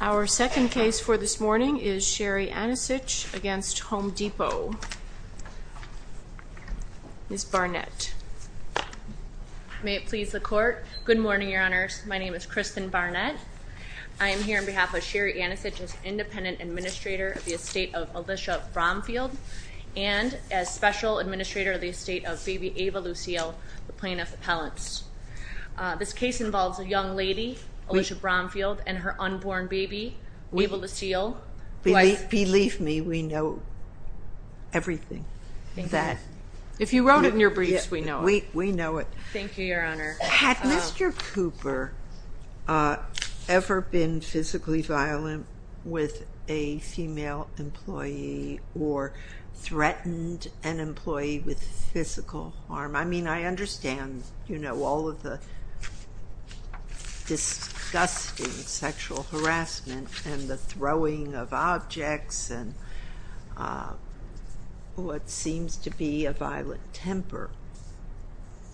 Our second case for this morning is Sherry Anicich v. Home Depot. Ms. Barnett. May it please the Court. Good morning, Your Honors. My name is Kristen Barnett. I am here on behalf of Sherry Anicich as Independent Administrator of the estate of baby Ava Lucille, the plaintiff's appellant. This case involves a young lady, Alicia Bromfield, and her unborn baby, Ava Lucille. Believe me, we know everything. If you wrote it in your briefs, we know it. We know it. Thank you, Your Honor. Had Mr. Cooper ever been physically violent with a female employee or threatened an employee with physical harm? I mean, I understand all of the disgusting sexual harassment and the throwing of objects and what seems to be a violent temper,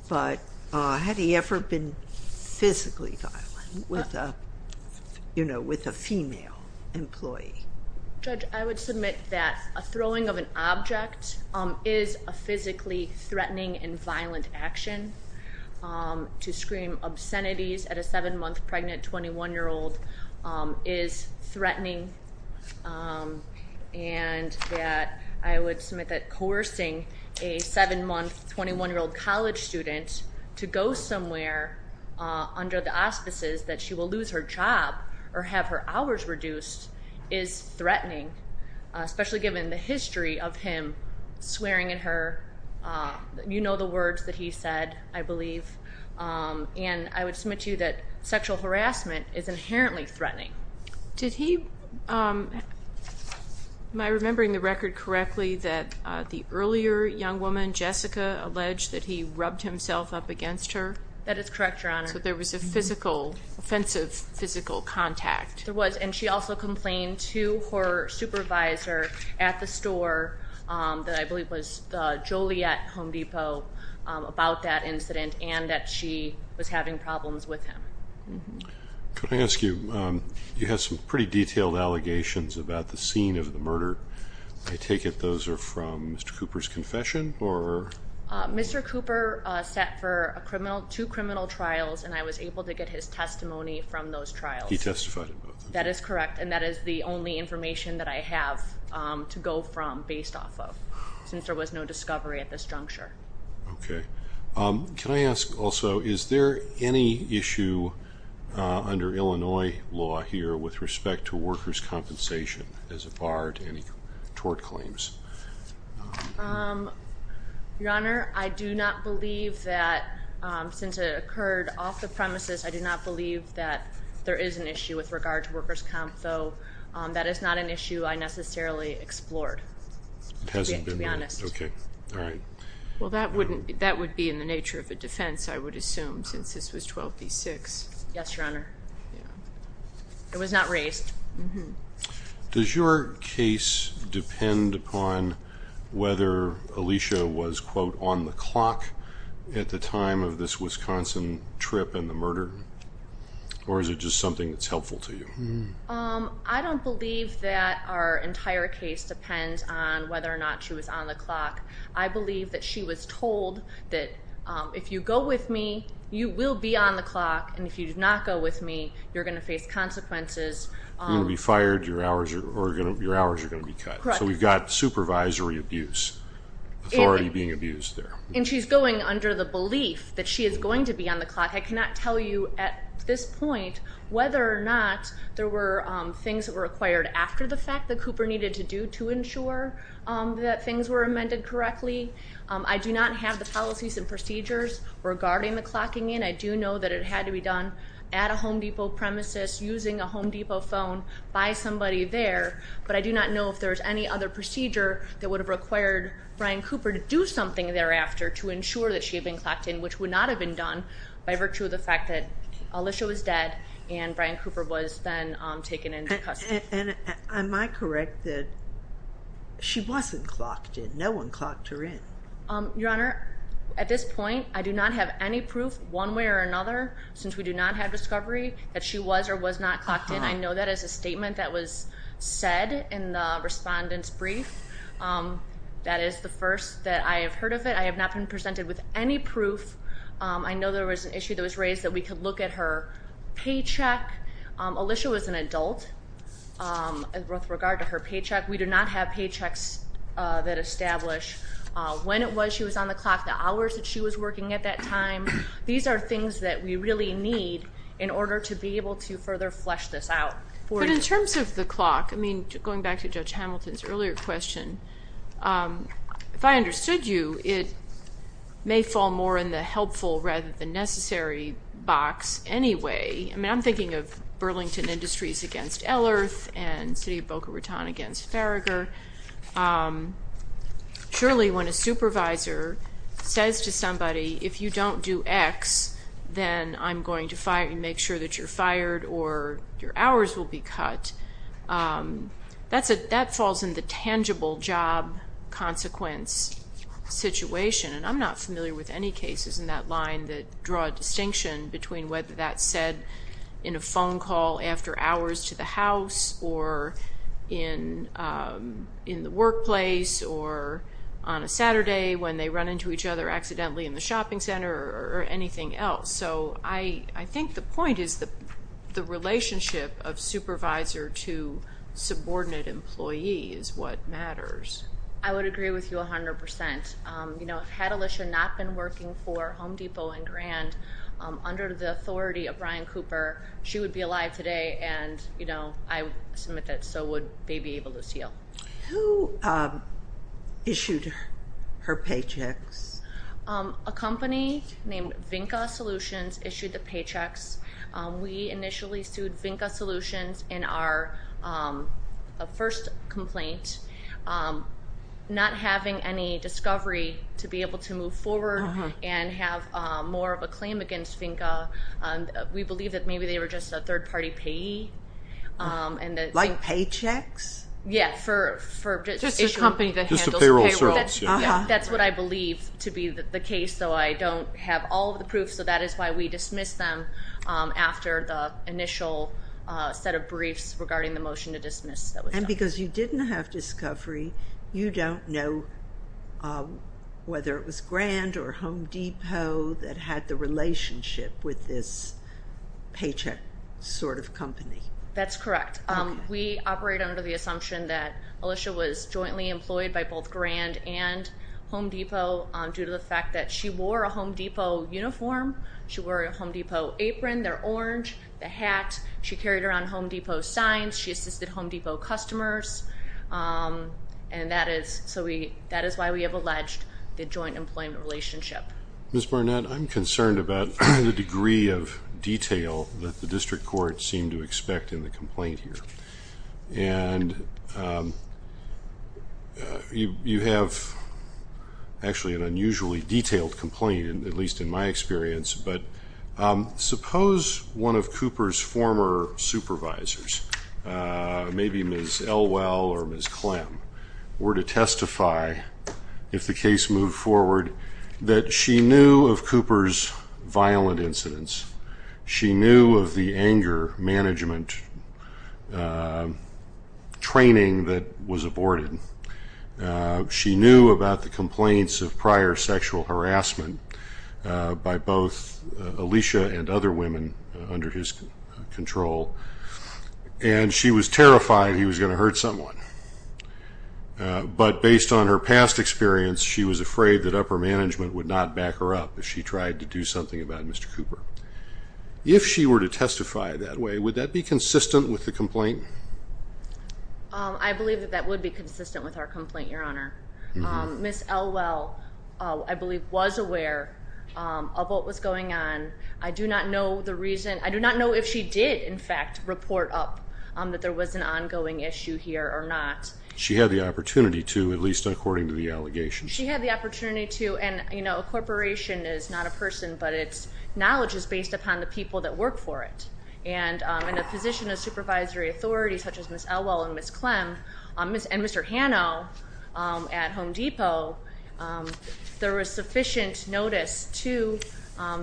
but had he ever been physically violent with a female employee? Judge, I would submit that a throwing of an object is a physically threatening and violent action. To scream obscenities at a 7-month pregnant 21-year-old is threatening, and that I would submit that coercing a 7-month 21-year-old college student to go somewhere under the auspices that she will lose her job or have her hours reduced is threatening, especially given the history of him swearing at her. You know the words that he said, I believe, and I would submit to you that sexual harassment is inherently threatening. Am I remembering the record correctly that the earlier young woman, Jessica, alleged that he rubbed himself up against her? That is correct, Your Honor. So there was a physical, offensive physical contact. There was, and she also complained to her supervisor at the store that I believe was Joliet Home Depot about that incident and that she was having problems with him. Could I ask you, you have some pretty detailed allegations about the scene of the murder. I take it those are from Mr. Cooper's confession? Mr. Cooper sat for two criminal trials, and I was able to get his testimony from those trials. He testified in both of them? That is correct, and that is the only information that I have to go from based off of, since there was no discovery at this juncture. Okay. Can I ask also, is there any issue under Illinois law here with respect to workers' compensation as a bar to any tort claims? Your Honor, I do not believe that, since it occurred off the premises, I do not believe that there is an issue with regard to workers' comp, though that is not an issue I necessarily explored, to be honest. Okay. All right. Well, that would be in the nature of a defense, I would assume, since this was 12b-6. Yes, Your Honor. It was not raised. Does your case depend upon whether Alicia was, quote, on the clock at the time of this Wisconsin trip and the murder, or is it just something that's helpful to you? I don't believe that our entire case depends on whether or not she was on the clock. I believe that she was told that if you go with me, you will be on the clock, and if you do not go with me, you're going to face consequences. You're going to be fired, your hours are going to be cut. Correct. So we've got supervisory abuse, authority being abused there. And she's going under the belief that she is going to be on the clock. I cannot tell you at this point whether or not there were things that were acquired after the fact that Cooper needed to do to ensure that things were amended correctly. I do not have the policies and procedures regarding the clocking in. I do know that it had to be done at a Home Depot premises, using a Home Depot phone by somebody there. But I do not know if there was any other procedure that would have required Brian Cooper to do something thereafter to ensure that she had been clocked in, which would not have been done by virtue of the fact that Alicia was dead and Brian Cooper was then taken into custody. And am I correct that she wasn't clocked in? No one clocked her in. Your Honor, at this point I do not have any proof one way or another, since we do not have discovery that she was or was not clocked in. I know that is a statement that was said in the respondent's brief. That is the first that I have heard of it. I have not been presented with any proof. I know there was an issue that was raised that we could look at her paycheck. Alicia was an adult with regard to her paycheck. We do not have paychecks that establish when it was she was on the clock, the hours that she was working at that time. These are things that we really need in order to be able to further flesh this out. But in terms of the clock, I mean, going back to Judge Hamilton's earlier question, if I understood you, it may fall more in the helpful rather than necessary box anyway. I mean, I'm thinking of Burlington Industries against Ellerth and City of Boca Raton against Farragher. Surely when a supervisor says to somebody, if you don't do X, then I'm going to make sure that you're fired or your hours will be cut, that falls in the tangible job consequence situation. And I'm not familiar with any cases in that line that draw a distinction between whether that's said in a phone call after hours to the house or in the workplace or on a Saturday when they run into each other accidentally in the shopping center or anything else. So I think the point is the relationship of supervisor to subordinate employee is what matters. I would agree with you 100%. Had Alicia not been working for Home Depot and Grand, under the authority of Brian Cooper, she would be alive today, and I submit that so would Baby Ava Lucille. Who issued her paychecks? A company named Vinca Solutions issued the paychecks. We initially sued Vinca Solutions in our first complaint, not having any discovery to be able to move forward and have more of a claim against Vinca. We believe that maybe they were just a third-party payee. Like paychecks? Yeah, for issuing. Just a company that handles payroll. That's what I believe to be the case, though I don't have all of the proof, so that is why we dismissed them after the initial set of briefs regarding the motion to dismiss. And because you didn't have discovery, you don't know whether it was Grand or Home Depot that had the relationship with this paycheck sort of company. That's correct. We operate under the assumption that Alicia was jointly employed by both Grand and Home Depot due to the fact that she wore a Home Depot uniform, she wore a Home Depot apron, their orange, the hat. She carried around Home Depot signs. She assisted Home Depot customers, and that is why we have alleged the joint employment relationship. Ms. Barnett, I'm concerned about the degree of detail that the district court seemed to expect in the complaint here. And you have actually an unusually detailed complaint, at least in my experience. But suppose one of Cooper's former supervisors, maybe Ms. Elwell or Ms. Clem, were to testify, if the case moved forward, that she knew of Cooper's violent incidents, she knew of the anger management training that was aborted, she knew about the complaints of prior sexual harassment by both Alicia and other women under his control, and she was terrified he was going to hurt someone. But based on her past experience, she was afraid that upper management would not back her up if she tried to do something about Mr. Cooper. If she were to testify that way, would that be consistent with the complaint? I believe that that would be consistent with our complaint, Your Honor. Ms. Elwell, I believe, was aware of what was going on. I do not know if she did, in fact, report up that there was an ongoing issue here or not. She had the opportunity to, at least according to the allegations. She had the opportunity to, and a corporation is not a person, but its knowledge is based upon the people that work for it. And in a position of supervisory authority such as Ms. Elwell and Ms. Clem and Mr. Hanno at Home Depot, there was sufficient notice to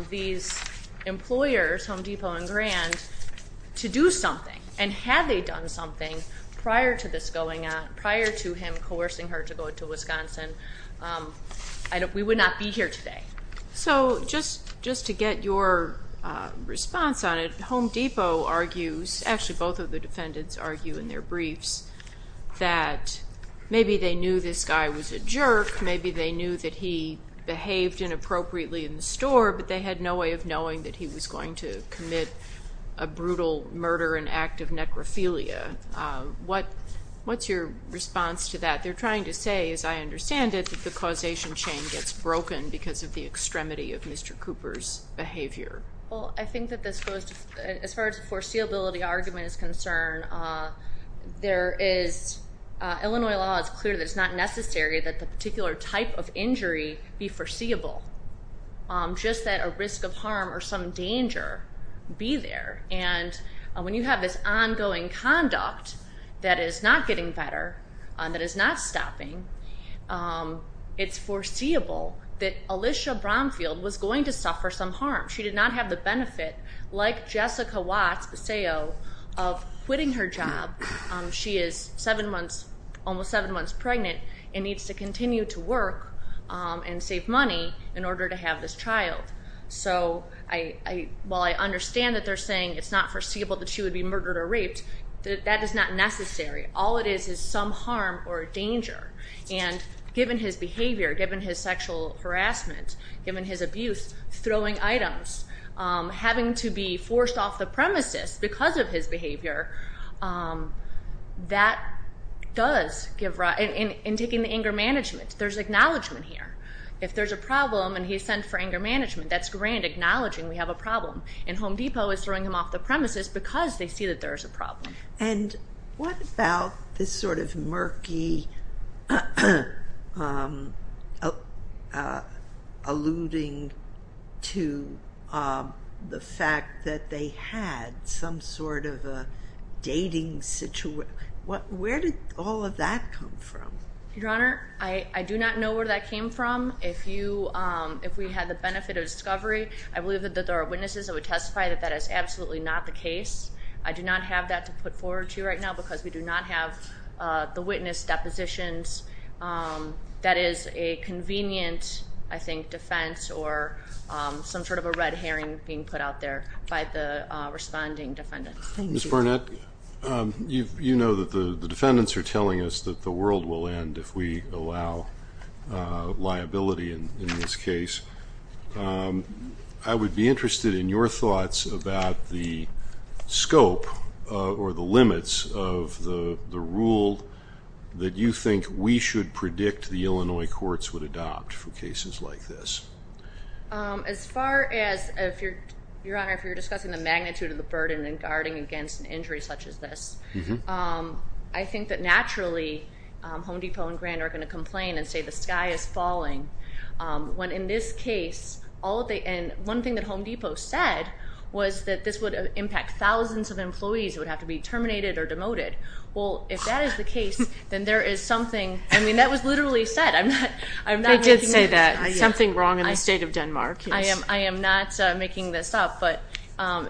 these employers, Home Depot and Grand, to do something. And had they done something prior to this going on, prior to him coercing her to go to Wisconsin, we would not be here today. So just to get your response on it, Home Depot argues, actually both of the defendants argue in their briefs, that maybe they knew this guy was a jerk, maybe they knew that he behaved inappropriately in the store, but they had no way of knowing that he was going to commit a brutal murder, an act of necrophilia. What's your response to that? They're trying to say, as I understand it, the causation chain gets broken because of the extremity of Mr. Cooper's behavior. Well, I think that this goes to, as far as foreseeability argument is concerned, Illinois law is clear that it's not necessary that the particular type of injury be foreseeable, just that a risk of harm or some danger be there. And when you have this ongoing conduct that is not getting better, that is not stopping, it's foreseeable that Alicia Bromfield was going to suffer some harm. She did not have the benefit, like Jessica Watts, a SEO, of quitting her job. She is almost seven months pregnant and needs to continue to work and save money in order to have this child. So while I understand that they're saying it's not foreseeable that she would be murdered or raped, that is not necessary. All it is is some harm or danger. And given his behavior, given his sexual harassment, given his abuse, throwing items, having to be forced off the premises because of his behavior, that does give rise. And taking the anger management, there's acknowledgment here. If there's a problem and he's sent for anger management, that's grand, acknowledging we have a problem. And Home Depot is throwing him off the premises because they see that there's a problem. And what about this sort of murky alluding to the fact that they had some sort of a dating situation? Where did all of that come from? Your Honor, I do not know where that came from. If we had the benefit of discovery, I believe that there are witnesses that would testify that that is absolutely not the case. I do not have that to put forward to you right now because we do not have the witness depositions. That is a convenient, I think, defense or some sort of a red herring being put out there by the responding defendants. Thank you. Ms. Barnett, you know that the defendants are telling us that the world will end if we allow liability in this case. I would be interested in your thoughts about the scope or the limits of the rule that you think we should predict the Illinois courts would adopt for cases like this. As far as, Your Honor, if you're discussing the magnitude of the burden in guarding against an injury such as this, I think that naturally Home Depot and Grand are going to complain and say the sky is falling. When in this case, one thing that Home Depot said was that this would impact thousands of employees who would have to be terminated or demoted. Well, if that is the case, then there is something. I mean, that was literally said. They did say that, something wrong in the state of Denmark. I am not making this up. But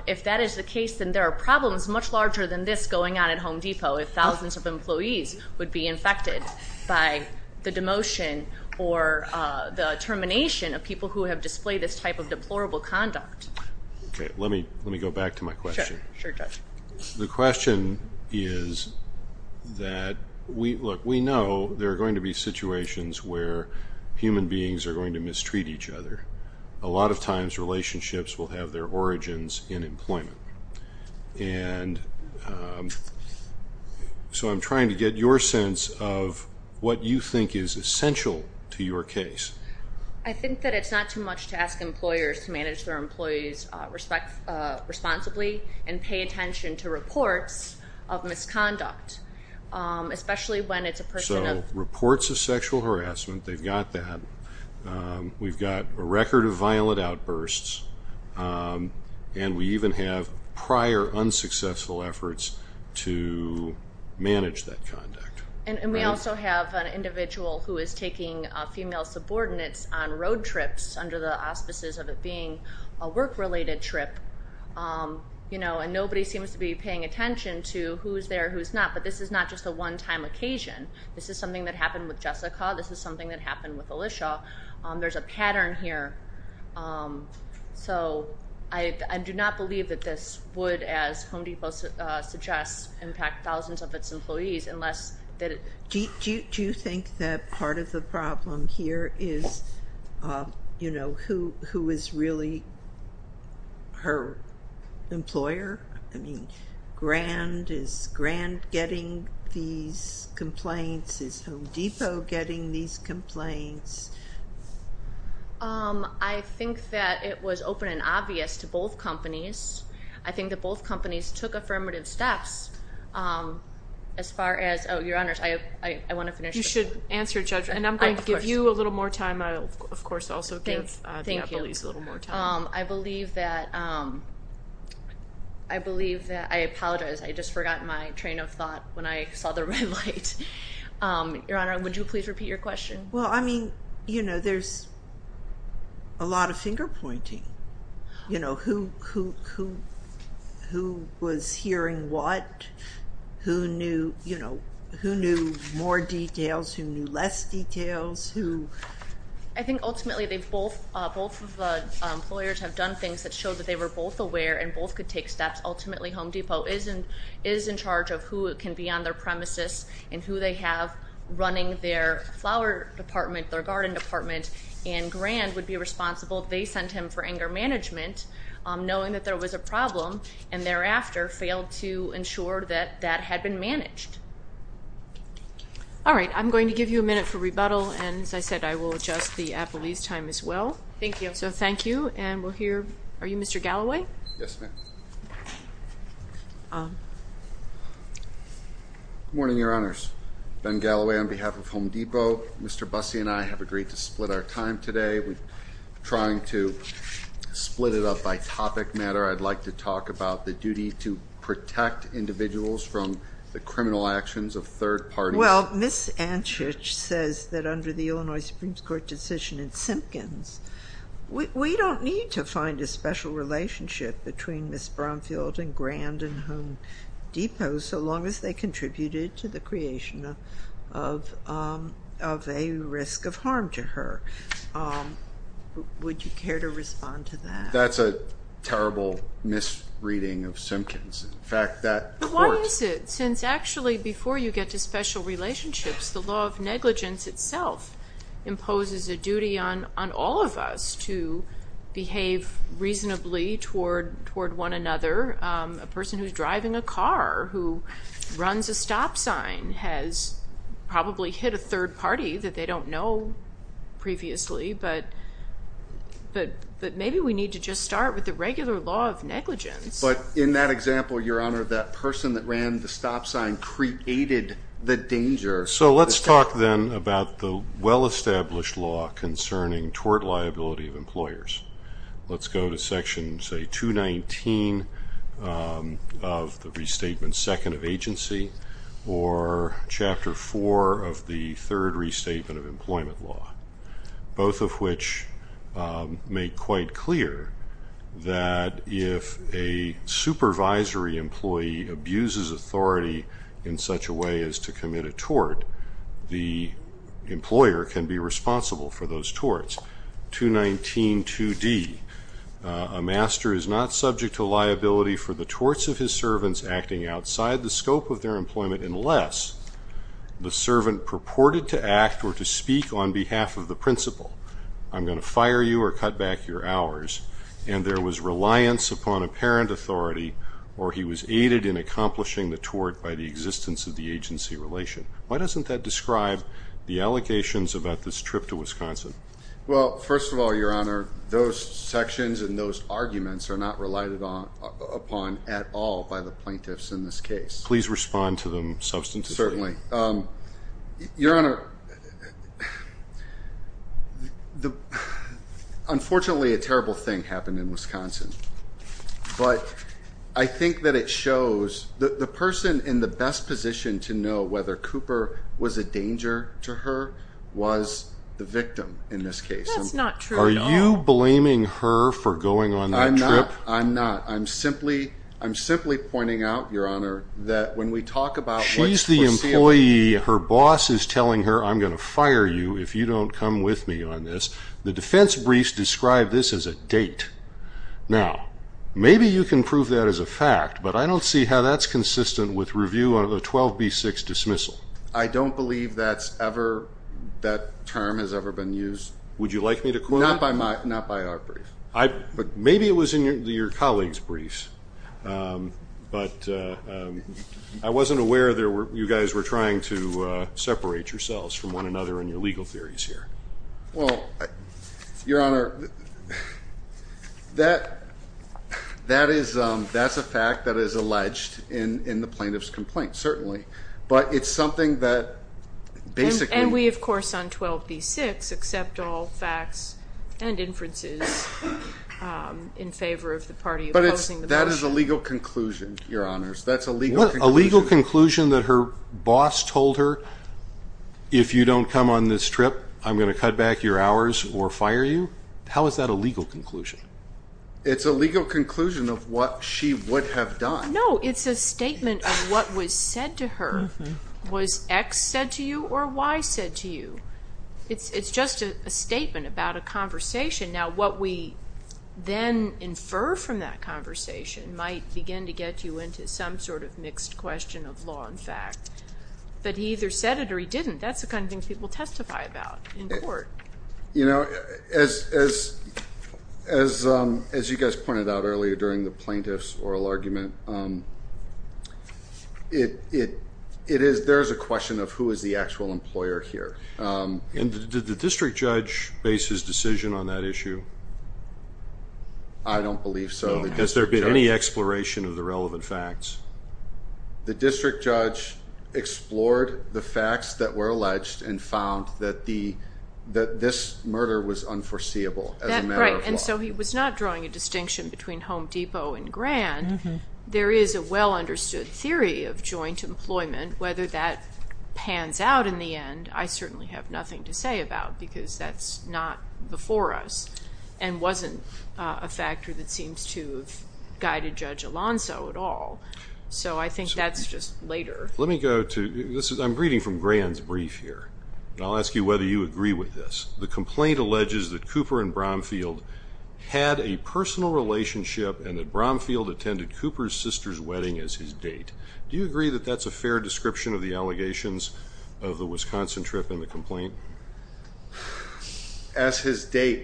if that is the case, then there are problems much larger than this going on at Home Depot if thousands of employees would be infected by the demotion or the termination of people who have displayed this type of deplorable conduct. Okay, let me go back to my question. Sure, Judge. The question is that, look, we know there are going to be situations where human beings are going to mistreat each other. A lot of times relationships will have their origins in employment. And so I'm trying to get your sense of what you think is essential to your case. I think that it's not too much to ask employers to manage their employees responsibly and pay attention to reports of misconduct, especially when it's a person of... So reports of sexual harassment, they've got that. We've got a record of violent outbursts. And we even have prior unsuccessful efforts to manage that conduct. And we also have an individual who is taking female subordinates on road trips under the auspices of it being a work-related trip. And nobody seems to be paying attention to who's there, who's not. But this is not just a one-time occasion. This is something that happened with Jessica. This is something that happened with Alicia. There's a pattern here. So I do not believe that this would, as Home Depot suggests, impact thousands of its employees unless that it... Do you think that part of the problem here is who is really her employer? I mean, is Grand getting these complaints? Is Home Depot getting these complaints? I think that it was open and obvious to both companies. I think that both companies took affirmative steps as far as... Oh, Your Honors, I want to finish this. You should answer, Judge, and I'm going to give you a little more time. I will, of course, also give the employees a little more time. Thank you. I believe that I apologize. I just forgot my train of thought when I saw the red light. Your Honor, would you please repeat your question? Well, I mean, you know, there's a lot of finger-pointing. You know, who was hearing what? Who knew, you know, who knew more details? Who knew less details? Who... I think, ultimately, both of the employers have done things that show that they were both aware and both could take steps. Ultimately, Home Depot is in charge of who can be on their premises and who they have running their flower department, their garden department, and Grand would be responsible if they sent him for anger management, knowing that there was a problem, and thereafter failed to ensure that that had been managed. All right, I'm going to give you a minute for rebuttal, and as I said, I will adjust the appellee's time as well. Thank you. So thank you, and we'll hear... Are you Mr. Galloway? Yes, ma'am. Good morning, Your Honors. Ben Galloway on behalf of Home Depot. Mr. Busse and I have agreed to split our time today. We're trying to split it up by topic matter. I'd like to talk about the duty to protect individuals from the criminal actions of third parties. Well, Ms. Anchich says that under the Illinois Supreme Court decision in Simpkins, we don't need to find a special relationship between Ms. Bromfield and Grand and Home Depot so long as they contributed to the creation of a risk of harm to her. Would you care to respond to that? That's a terrible misreading of Simpkins. In fact, that court... But why is it since actually before you get to special relationships, the law of negligence itself imposes a duty on all of us to behave reasonably toward one another. A person who's driving a car who runs a stop sign has probably hit a third party that they don't know previously, but maybe we need to just start with the regular law of negligence. But in that example, Your Honor, that person that ran the stop sign created the danger. So let's talk then about the well-established law concerning tort liability of employers. Let's go to Section, say, 219 of the Restatement Second of Agency or Chapter 4 of the Third Restatement of Employment Law, both of which make quite clear that if a supervisory employee abuses authority in such a way as to commit a tort, the employer can be responsible for those torts. 2192D, a master is not subject to liability for the torts of his servants acting outside the scope of their employment unless the servant purported to act or to speak on behalf of the principal. I'm going to fire you or cut back your hours, and there was reliance upon apparent authority or he was aided in accomplishing the tort by the existence of the agency relation. Why doesn't that describe the allegations about this trip to Wisconsin? Well, first of all, Your Honor, those sections and those arguments are not relied upon at all by the plaintiffs in this case. Please respond to them substantively. Certainly. Your Honor, unfortunately a terrible thing happened in Wisconsin, but I think that it shows the person in the best position to know whether Cooper was a danger to her was the victim in this case. That's not true at all. Are you blaming her for going on that trip? I'm not. I'm simply pointing out, Your Honor, that when we talk about what's foreseeable. She's the employee. Her boss is telling her, I'm going to fire you if you don't come with me on this. The defense briefs describe this as a date. Now, maybe you can prove that as a fact, but I don't see how that's consistent with review of the 12B6 dismissal. I don't believe that term has ever been used. Would you like me to quote it? Not by our brief. Maybe it was in your colleague's briefs, but I wasn't aware you guys were trying to separate yourselves from one another in your legal theories here. Well, Your Honor, that is a fact that is alleged in the plaintiff's complaint, certainly, but it's something that basically. And we, of course, on 12B6, accept all facts and inferences in favor of the party opposing the motion. But that is a legal conclusion, Your Honors. That's a legal conclusion. A legal conclusion that her boss told her, if you don't come on this trip, I'm going to cut back your hours or fire you? How is that a legal conclusion? It's a legal conclusion of what she would have done. No, it's a statement of what was said to her. Was X said to you or Y said to you? It's just a statement about a conversation. Now, what we then infer from that conversation might begin to get you into some sort of mixed question of law and fact. But he either said it or he didn't. That's the kind of thing people testify about in court. You know, as you guys pointed out earlier during the plaintiff's oral argument, there is a question of who is the actual employer here. Did the district judge base his decision on that issue? I don't believe so. Has there been any exploration of the relevant facts? The district judge explored the facts that were alleged and found that this murder was unforeseeable as a matter of law. Right, and so he was not drawing a distinction between Home Depot and Grand. There is a well-understood theory of joint employment. Whether that pans out in the end, I certainly have nothing to say about because that's not before us and wasn't a factor that seems to have guided Judge Alonso at all. So I think that's just later. Let me go to this. I'm reading from Grand's brief here, and I'll ask you whether you agree with this. The complaint alleges that Cooper and Bromfield had a personal relationship and that Bromfield attended Cooper's sister's wedding as his date. Do you agree that that's a fair description of the allegations of the Wisconsin trip in the complaint? As his date,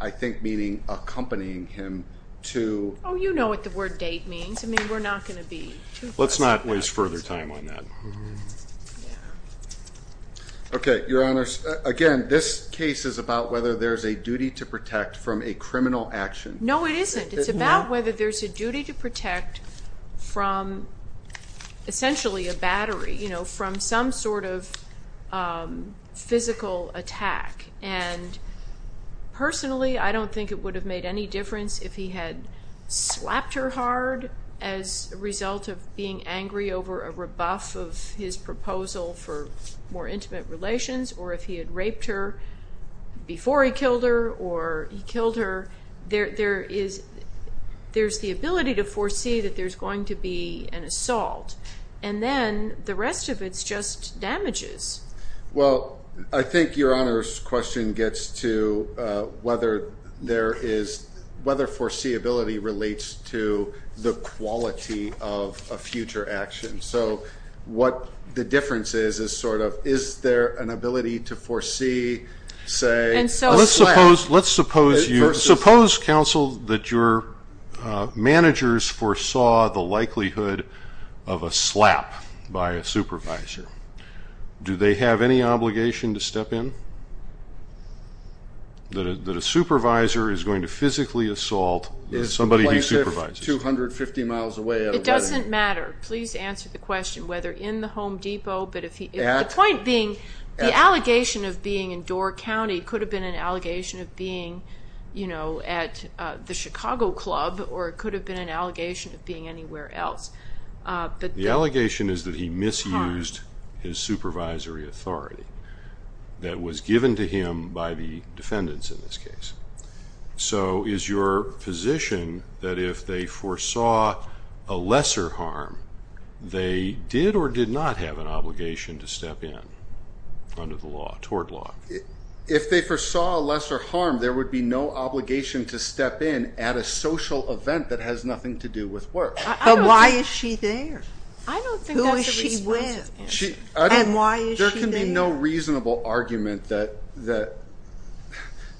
I think meaning accompanying him to. Oh, you know what the word date means. I mean, we're not going to be too fast. Let's not waste further time on that. Okay, Your Honors, again, this case is about whether there's a duty to protect from a criminal action. No, it isn't. It's about whether there's a duty to protect from essentially a battery, from some sort of physical attack. And personally, I don't think it would have made any difference if he had slapped her hard as a result of being angry over a rebuff of his proposal for more intimate relations or if he had raped her before he killed her or he killed her. There's the ability to foresee that there's going to be an assault, and then the rest of it's just damages. Well, I think Your Honor's question gets to whether foreseeability relates to the quality of a future action. So what the difference is is sort of is there an ability to foresee, say, a slap? Let's suppose, counsel, that your managers foresaw the likelihood of a slap by a supervisor. Do they have any obligation to step in that a supervisor is going to physically assault somebody he supervises? Is the plaintiff 250 miles away at a wedding? It doesn't matter. Please answer the question whether in the Home Depot. The point being the allegation of being in Door County could have been an allegation of being at the Chicago Club or it could have been an allegation of being anywhere else. The allegation is that he misused his supervisory authority that was given to him by the defendants in this case. So is your position that if they foresaw a lesser harm, they did or did not have an obligation to step in under the law, tort law? If they foresaw a lesser harm, there would be no obligation to step in at a social event that has nothing to do with work. But why is she there? I don't think that's a responsible answer. Who is she with? And why is she there? There would be no reasonable argument that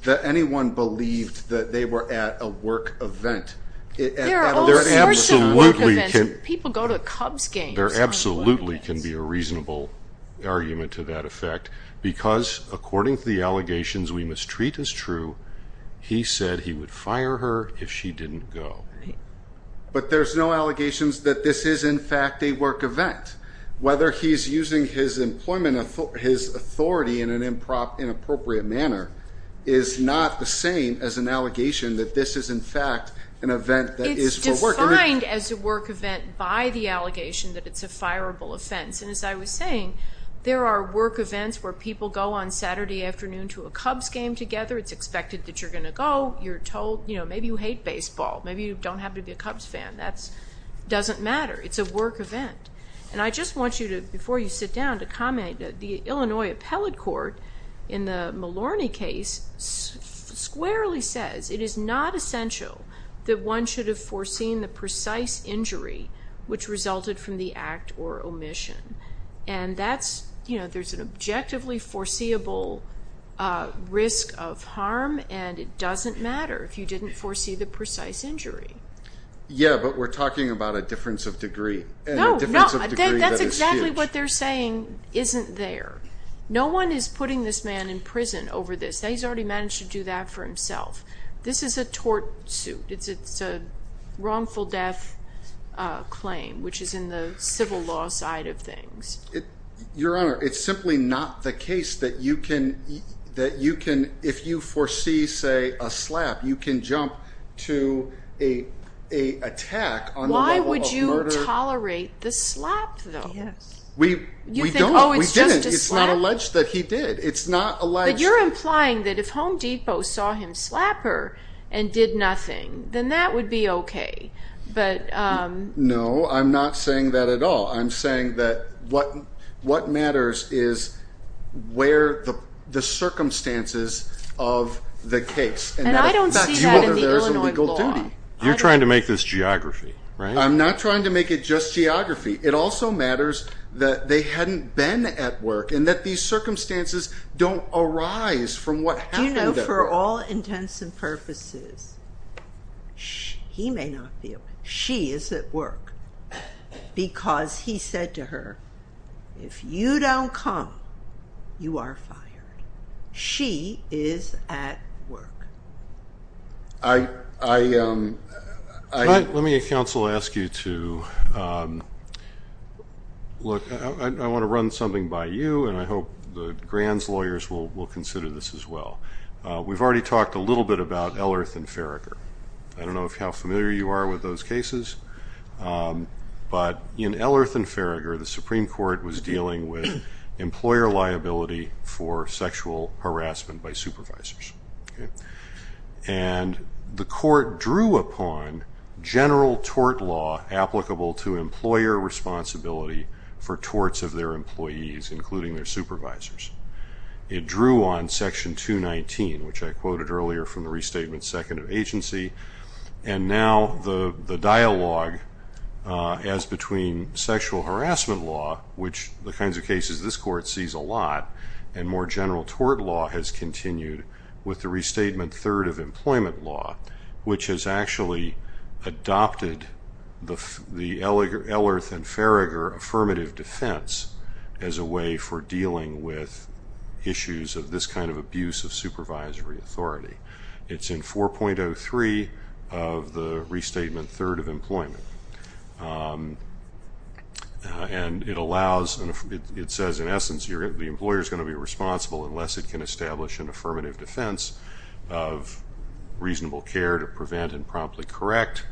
anyone believed that they were at a work event. There are all sorts of work events. People go to Cubs games. There absolutely can be a reasonable argument to that effect because according to the allegations we mistreat as true, he said he would fire her if she didn't go. But there's no allegations that this is, in fact, a work event. Whether he's using his authority in an inappropriate manner is not the same as an allegation that this is, in fact, an event that is for work. It's defined as a work event by the allegation that it's a fireable offense. And as I was saying, there are work events where people go on Saturday afternoon to a Cubs game together. It's expected that you're going to go. You're told, you know, maybe you hate baseball. Maybe you don't happen to be a Cubs fan. That doesn't matter. It's a work event. And I just want you to, before you sit down, to comment. The Illinois Appellate Court in the Malorny case squarely says it is not essential that one should have foreseen the precise injury which resulted from the act or omission. And that's, you know, there's an objectively foreseeable risk of harm, and it doesn't matter if you didn't foresee the precise injury. Yeah, but we're talking about a difference of degree. No, no, that's exactly what they're saying isn't there. No one is putting this man in prison over this. He's already managed to do that for himself. This is a tort suit. It's a wrongful death claim, which is in the civil law side of things. Your Honor, it's simply not the case that you can, if you foresee, say, a slap, you can jump to an attack on the level of murder. Yes. We don't. We didn't. It's not alleged that he did. It's not alleged. But you're implying that if Home Depot saw him slapper and did nothing, then that would be okay. No, I'm not saying that at all. I'm saying that what matters is where the circumstances of the case. And I don't see that in the Illinois law. You're trying to make this geography, right? I'm not trying to make it just geography. It also matters that they hadn't been at work and that these circumstances don't arise from what happened at work. Do you know, for all intents and purposes, he may not be at work. She is at work because he said to her, if you don't come, you are fired. She is at work. Let me counsel ask you to look. I want to run something by you, and I hope the Grants lawyers will consider this as well. We've already talked a little bit about Ellerth and Farragher. I don't know how familiar you are with those cases, but in Ellerth and Farragher, the Supreme Court was dealing with employer liability for sexual harassment by supervisors. And the court drew upon general tort law applicable to employer responsibility for torts of their employees, including their supervisors. It drew on Section 219, which I quoted earlier from the Restatement Second of Agency, and now the dialogue as between sexual harassment law, which the kinds of cases this court sees a lot, and more general tort law has continued with the Restatement Third of Employment Law, which has actually adopted the Ellerth and Farragher affirmative defense as a way for dealing with issues of this kind of abuse of supervisory authority. It's in 4.03 of the Restatement Third of Employment. And it says, in essence, the employer is going to be responsible unless it can establish an affirmative defense of reasonable care to prevent and promptly correct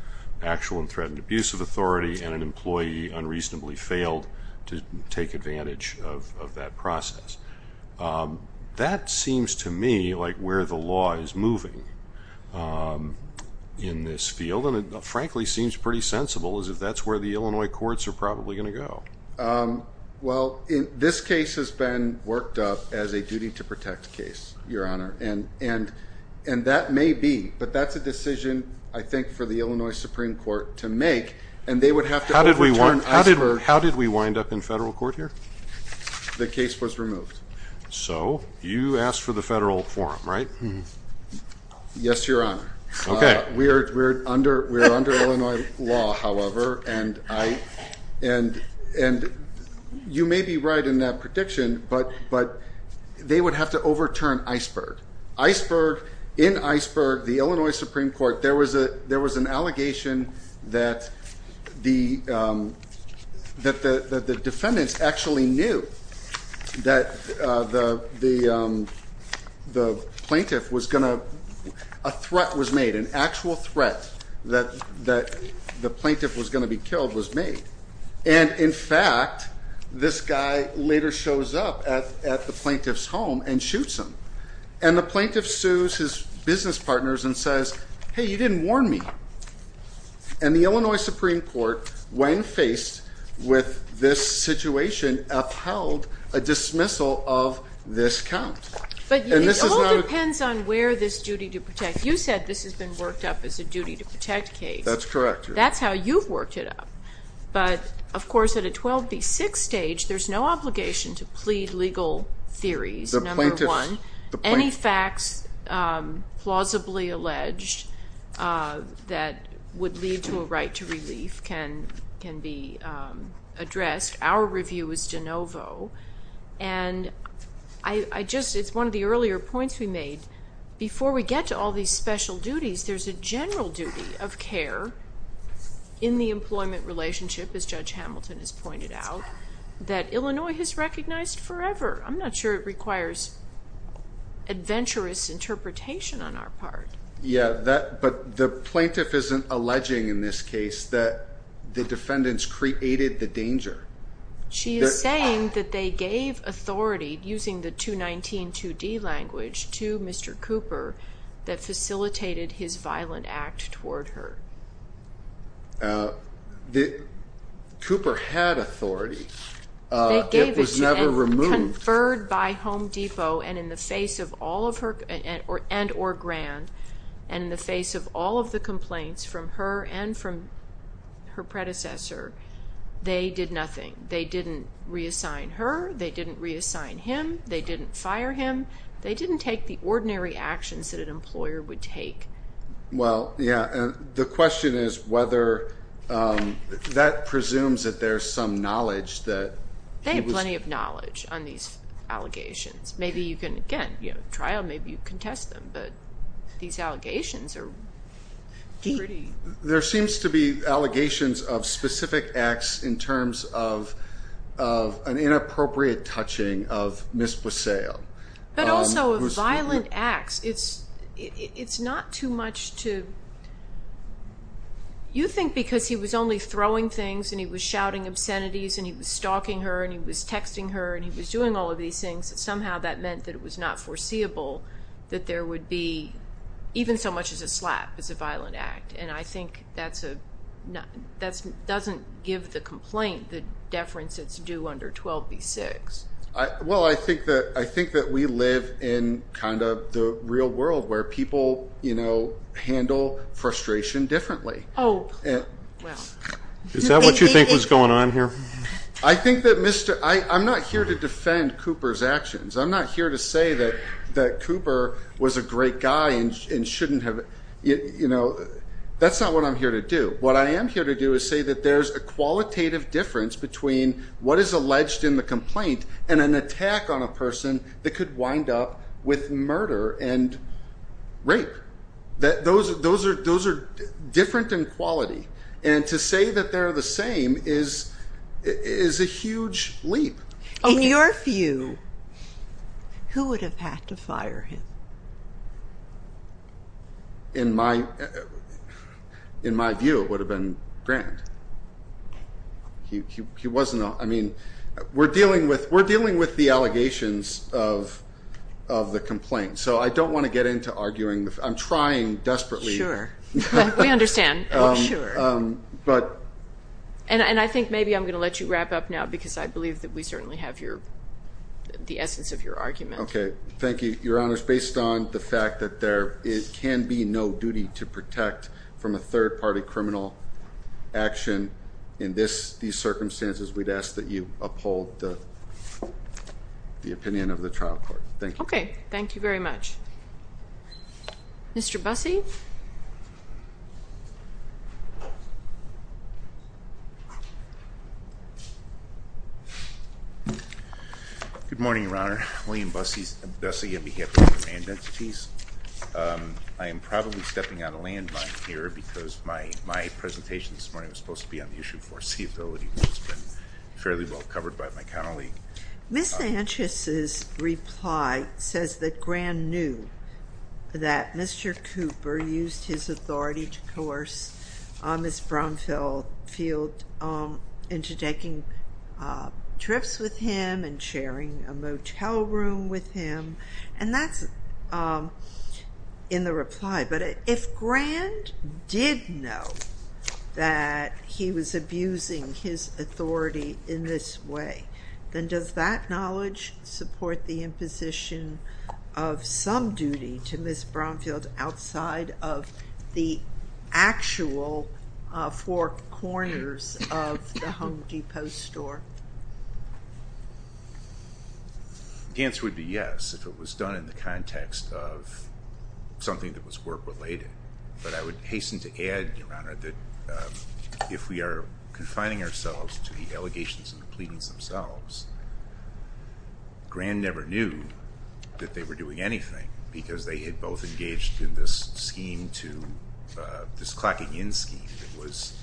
actual and threatened abuse of authority and an employee unreasonably failed to take advantage of that process. That seems to me like where the law is moving in this field, and it frankly seems pretty sensible as if that's where the Illinois courts are probably going to go. Well, this case has been worked up as a duty-to-protect case, Your Honor, and that may be, but that's a decision, I think, for the Illinois Supreme Court to make, and they would have to overturn Oscar. How did we wind up in federal court here? The case was removed. So you asked for the federal forum, right? Yes, Your Honor. Okay. We're under Illinois law, however, and you may be right in that prediction, but they would have to overturn Iceberg. In Iceberg, the Illinois Supreme Court, there was an allegation that the defendants actually knew that the plaintiff was going to a threat was made, an actual threat that the plaintiff was going to be killed was made. And, in fact, this guy later shows up at the plaintiff's home and shoots him, and the plaintiff sues his business partners and says, hey, you didn't warn me. And the Illinois Supreme Court, when faced with this situation, upheld a dismissal of this count. But it all depends on where this duty-to-protect, you said this has been worked up as a duty-to-protect case. That's correct, Your Honor. That's how you've worked it up. But, of course, at a 12 v. 6 stage, there's no obligation to plead legal theories, number one. Any facts plausibly alleged that would lead to a right to relief can be addressed. Our review is de novo. And it's one of the earlier points we made. Before we get to all these special duties, there's a general duty of care in the employment relationship, as Judge Hamilton has pointed out, that Illinois has recognized forever. I'm not sure it requires adventurous interpretation on our part. Yeah, but the plaintiff isn't alleging in this case that the defendants created the danger. She is saying that they gave authority, using the 219 2D language, to Mr. Cooper, that facilitated his violent act toward her. Cooper had authority. It was never removed. They gave it to him, conferred by Home Depot, and in the face of all of her and or Grand, and in the face of all of the complaints from her and from her predecessor, they did nothing. They didn't reassign her. They didn't reassign him. They didn't fire him. They didn't take the ordinary actions that an employer would take. Well, yeah, the question is whether that presumes that there's some knowledge that he was They have plenty of knowledge on these allegations. Maybe you can, again, you know, trial, maybe you contest them, but these allegations are pretty There seems to be allegations of specific acts in terms of an inappropriate touching of Ms. Busseo. But also of violent acts. It's not too much to You think because he was only throwing things and he was shouting obscenities and he was stalking her and he was texting her and he was doing all of these things, that somehow that meant that it was not foreseeable that there would be, even so much as a slap, as a violent act, and I think that doesn't give the complaint the deference it's due under 12B-6. Well, I think that we live in kind of the real world where people, you know, handle frustration differently. Oh, well. Is that what you think was going on here? I think that Mr. I'm not here to defend Cooper's actions. I'm not here to say that Cooper was a great guy and shouldn't have, you know, that's not what I'm here to do. What I am here to do is say that there's a qualitative difference between what is alleged in the complaint and an attack on a person that could wind up with murder and rape. Those are different in quality. And to say that they're the same is a huge leap. In your view, who would have had to fire him? In my view, it would have been Grant. I mean, we're dealing with the allegations of the complaint, so I don't want to get into arguing. I'm trying desperately. Sure. We understand. Sure. And I think maybe I'm going to let you wrap up now because I believe that we certainly have the essence of your argument. Okay. Thank you, Your Honor. Based on the fact that there can be no duty to protect from a third-party criminal action in these circumstances, we'd ask that you uphold the opinion of the trial court. Thank you. Okay. Thank you very much. Mr. Busse? Good morning, Your Honor. William Busse on behalf of the Grand Entities. I am probably stepping out of landmine here because my presentation this morning was supposed to be on the issue of foreseeability, which has been fairly well covered by my colleague. Ms. Sanchez's reply says that Grand knew that Mr. Cooper used his authority to coerce Ms. Bromfield into taking trips with him and sharing a motel room with him, and that's in the reply. But if Grand did know that he was abusing his authority in this way, then does that knowledge support the imposition of some duty to Ms. Bromfield outside of the actual four corners of the Home Depot store? The answer would be yes, if it was done in the context of something that was work-related. But I would hasten to add, Your Honor, that if we are confining ourselves to the allegations and the pleadings themselves, Grand never knew that they were doing anything because they had both engaged in this clocking-in scheme that was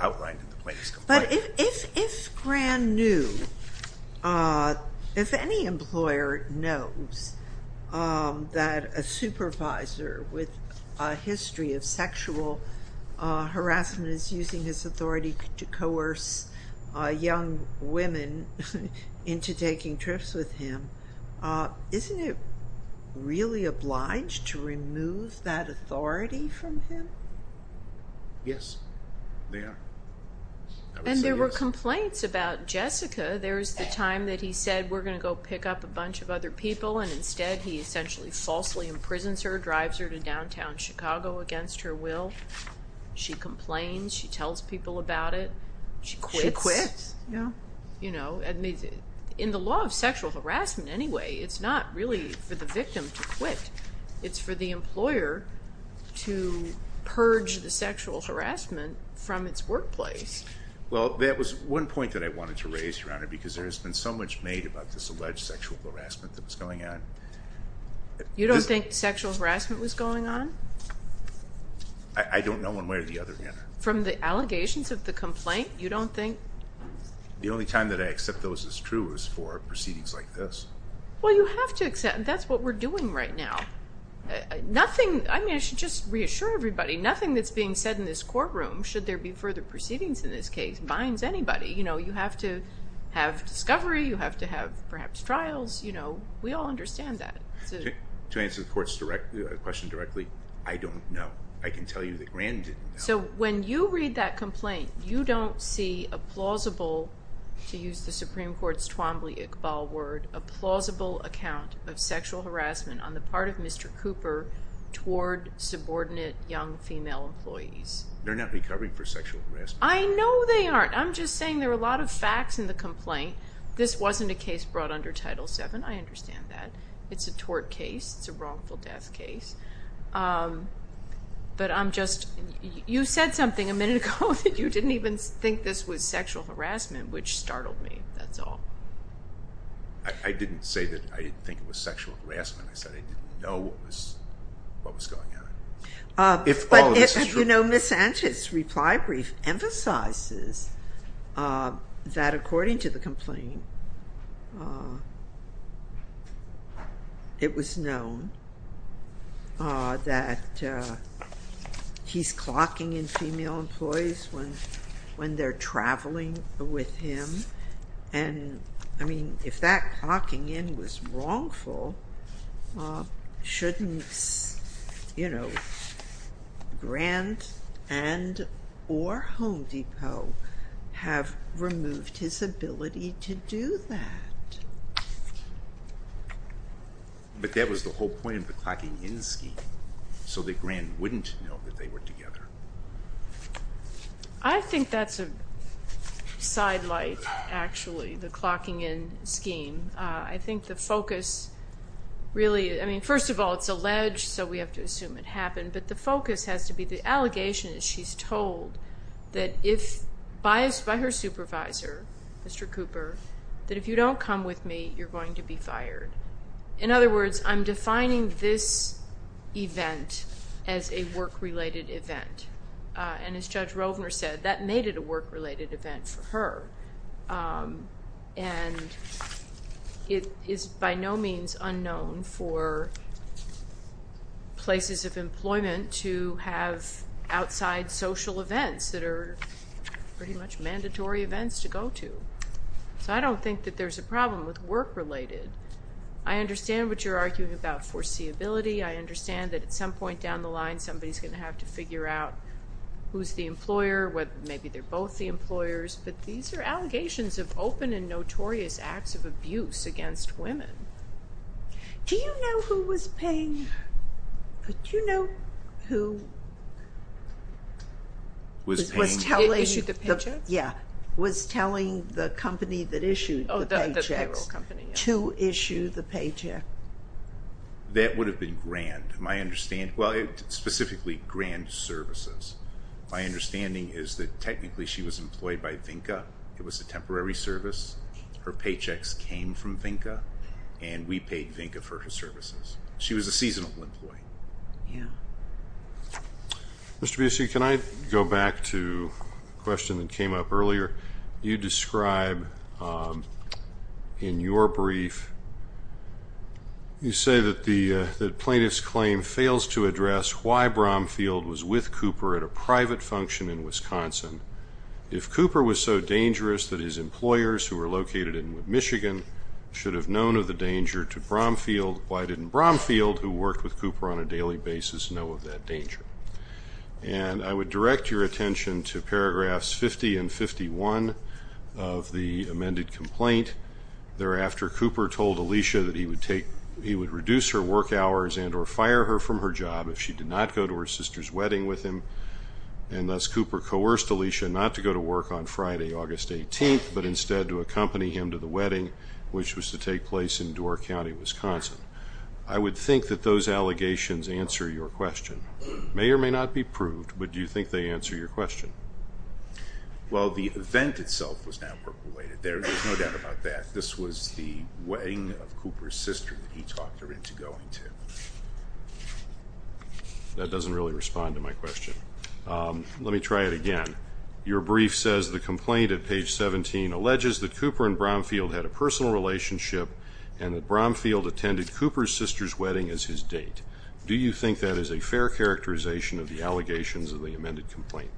outlined in the plaintiff's complaint. But if Grand knew, if any employer knows that a supervisor with a history of sexual harassment is using his authority to coerce young women into taking trips with him, isn't it really obliged to remove that authority from him? Yes, they are. And there were complaints about Jessica. There was the time that he said, we're going to go pick up a bunch of other people, and instead he essentially falsely imprisons her, drives her to downtown Chicago against her will. She complains. She tells people about it. She quits. She quits, yeah. You know, in the law of sexual harassment anyway, it's not really for the victim to quit. It's for the employer to purge the sexual harassment from its workplace. Well, that was one point that I wanted to raise, Your Honor, because there has been so much made about this alleged sexual harassment that was going on. You don't think sexual harassment was going on? I don't know one way or the other, Your Honor. From the allegations of the complaint, you don't think? The only time that I accept those as true is for proceedings like this. Well, you have to accept that's what we're doing right now. Nothing, I mean, I should just reassure everybody, nothing that's being said in this courtroom, should there be further proceedings in this case, binds anybody. You know, you have to have discovery. You have to have perhaps trials. You know, we all understand that. To answer the question directly, I don't know. I can tell you that Rand didn't know. So when you read that complaint, you don't see a plausible, to use the Supreme Court's Twombly-Iqbal word, a plausible account of sexual harassment on the part of Mr. Cooper toward subordinate young female employees. They're not recovering for sexual harassment. I know they aren't. I'm just saying there are a lot of facts in the complaint. This wasn't a case brought under Title VII. I understand that. It's a tort case. It's a wrongful death case. But I'm just, you said something a minute ago that you didn't even think this was sexual harassment, which startled me, that's all. I didn't say that I didn't think it was sexual harassment. I said I didn't know what was going on. If all of this is true. You know, Ms. Sanchez's reply brief emphasizes that according to the complaint, it was known that he's clocking in female employees when they're traveling with him. And, I mean, if that clocking in was wrongful, shouldn't, you know, Grant and or Home Depot have removed his ability to do that? But that was the whole point of the clocking in scheme, so that Grant wouldn't know that they were together. I think that's a sidelight, actually, the clocking in scheme. I think the focus really, I mean, first of all, it's alleged, so we have to assume it happened. But the focus has to be the allegation that she's told that if, biased by her supervisor, Mr. Cooper, that if you don't come with me, you're going to be fired. In other words, I'm defining this event as a work-related event. And as Judge Rovner said, that made it a work-related event for her. And it is by no means unknown for places of employment to have outside social events that are pretty much mandatory events to go to. So I don't think that there's a problem with work-related. I understand what you're arguing about foreseeability. I understand that at some point down the line, somebody's going to have to figure out who's the employer, whether maybe they're both the employers. But these are allegations of open and notorious acts of abuse against women. Do you know who was paying, do you know who was paying? Issued the paychecks? Yeah, was telling the company that issued the paychecks to issue the paycheck. That would have been grand, my understanding, well, specifically grand services. My understanding is that technically she was employed by VINCA. It was a temporary service. Her paychecks came from VINCA, and we paid VINCA for her services. She was a seasonal employee. Yeah. Mr. Busey, can I go back to a question that came up earlier? You describe in your brief, you say that the plaintiff's claim fails to address why Bromfield was with Cooper at a private function in Wisconsin. If Cooper was so dangerous that his employers, who were located in Michigan, should have known of the danger to Bromfield, why didn't Bromfield, who worked with Cooper on a daily basis, know of that danger? And I would direct your attention to paragraphs 50 and 51 of the amended complaint. Thereafter, Cooper told Alicia that he would reduce her work hours and or fire her from her job if she did not go to her sister's wedding with him. And thus, Cooper coerced Alicia not to go to work on Friday, August 18th, but instead to accompany him to the wedding, which was to take place in Door County, Wisconsin. I would think that those allegations answer your question. May or may not be proved, but do you think they answer your question? Well, the event itself was not work-related. There's no doubt about that. This was the wedding of Cooper's sister that he talked her into going to. That doesn't really respond to my question. Let me try it again. Your brief says the complaint at page 17 alleges that Cooper and Bromfield had a personal relationship and that Bromfield attended Cooper's sister's wedding as his date. Do you think that is a fair characterization of the allegations of the amended complaint?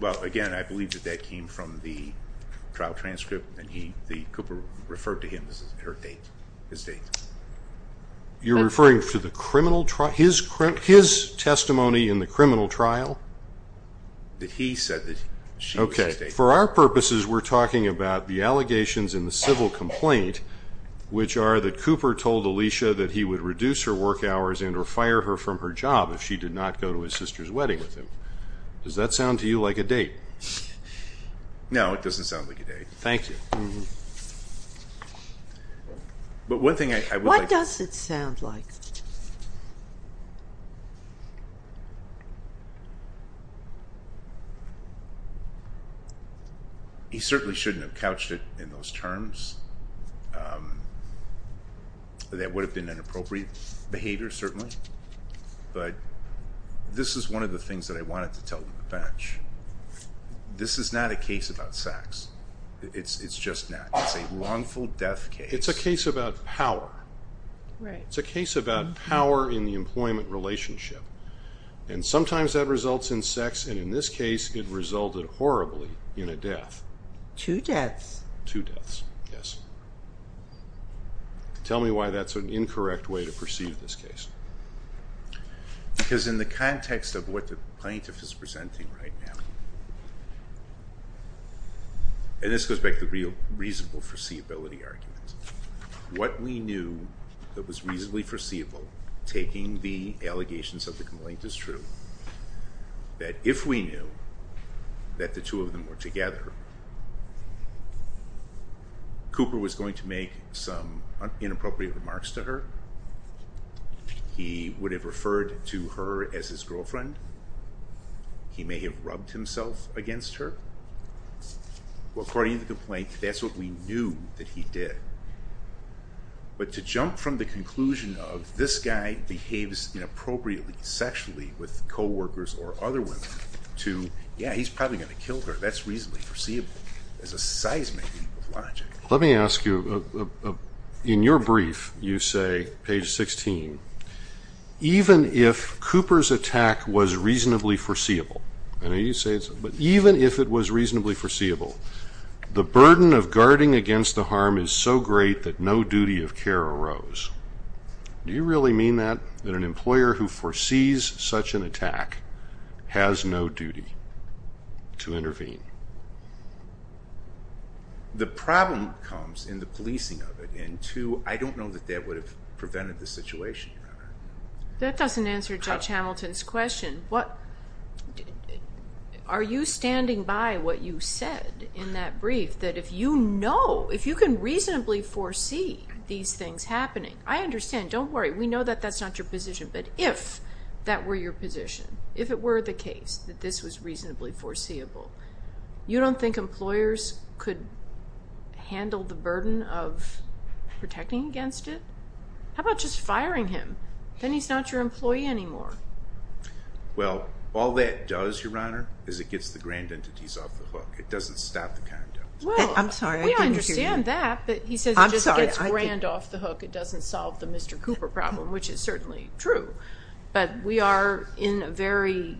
Well, again, I believe that that came from the trial transcript, and Cooper referred to him as her date, his date. You're referring to his testimony in the criminal trial? That he said that she was his date. Okay. For our purposes, we're talking about the allegations in the civil complaint, which are that Cooper told Alicia that he would reduce her work hours and or fire her from her job if she did not go to his sister's wedding with him. Does that sound to you like a date? No, it doesn't sound like a date. Thank you. But one thing I would like to say. What does it sound like? He certainly shouldn't have couched it in those terms. That would have been inappropriate behavior, certainly. But this is one of the things that I wanted to tell the bench. This is not a case about sex. It's just not. It's a wrongful death case. It's a case about power. It's a case about power in the employment relationship. And sometimes that results in sex, and in this case, it resulted horribly in a death. Two deaths. Two deaths, yes. Tell me why that's an incorrect way to perceive this case. Because in the context of what the plaintiff is presenting right now, and this goes back to the reasonable foreseeability argument, what we knew that was reasonably foreseeable, taking the allegations of the complaint as true, that if we knew that the two of them were together, Cooper was going to make some inappropriate remarks to her. He would have referred to her as his girlfriend. He may have rubbed himself against her. Well, according to the complaint, that's what we knew that he did. But to jump from the conclusion of this guy behaves inappropriately sexually with coworkers or other women to, yeah, he's probably going to kill her. That's reasonably foreseeable. It's a seismic leap of logic. Let me ask you, in your brief, you say, page 16, even if Cooper's attack was reasonably foreseeable, I know you say it, but even if it was reasonably foreseeable, the burden of guarding against the harm is so great that no duty of care arose. Do you really mean that, that an employer who foresees such an attack has no duty to intervene? The problem comes in the policing of it, and two, I don't know that that would have prevented the situation, Your Honor. That doesn't answer Judge Hamilton's question. Are you standing by what you said in that brief, that if you know, reasonably foresee these things happening, I understand, don't worry, we know that that's not your position, but if that were your position, if it were the case that this was reasonably foreseeable, you don't think employers could handle the burden of protecting against it? How about just firing him? Then he's not your employee anymore. Well, all that does, Your Honor, is it gets the grand entities off the hook. It doesn't stop the conduct. I'm sorry, I didn't hear you. Well, we understand that, but he says it just gets grand off the hook. It doesn't solve the Mr. Cooper problem, which is certainly true. But we are in a very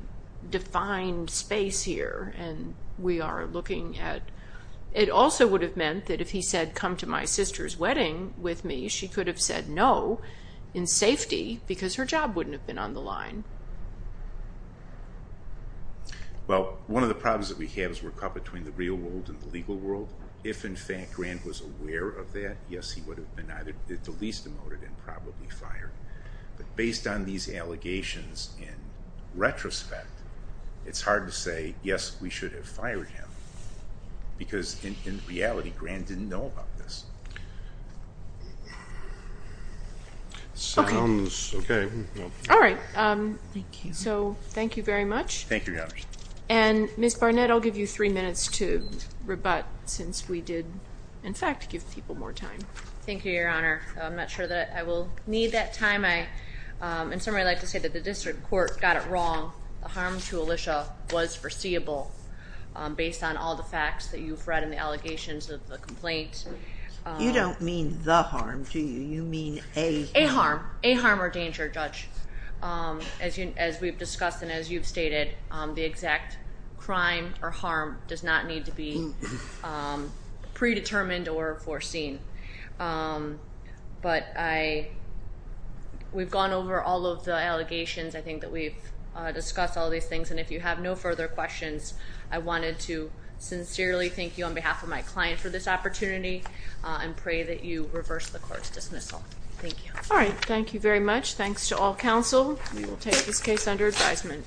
defined space here, and we are looking at, it also would have meant that if he said, come to my sister's wedding with me, she could have said no in safety because her job wouldn't have been on the line. Well, one of the problems that we have is we're caught between the real world and the legal world. If, in fact, Grant was aware of that, yes, he would have been either the least demoted and probably fired. But based on these allegations in retrospect, it's hard to say, yes, we should have fired him because, in reality, Grant didn't know about this. Okay. All right. Thank you. So thank you very much. Thank you, Your Honor. And, Ms. Barnett, I'll give you three minutes to rebut since we did, in fact, give people more time. Thank you, Your Honor. I'm not sure that I will need that time. In summary, I'd like to say that the district court got it wrong. The harm to Alicia was foreseeable based on all the facts that you've read and the allegations of the complaint. You don't mean the harm, do you? You mean a harm. A harm. A harm or danger, Judge, as we've discussed and as you've stated. The exact crime or harm does not need to be predetermined or foreseen. But we've gone over all of the allegations. I think that we've discussed all these things. And if you have no further questions, I wanted to sincerely thank you on behalf of my client for this opportunity and pray that you reverse the court's dismissal. Thank you. All right. Thank you very much. Thanks to all counsel. We will take this case under advisement.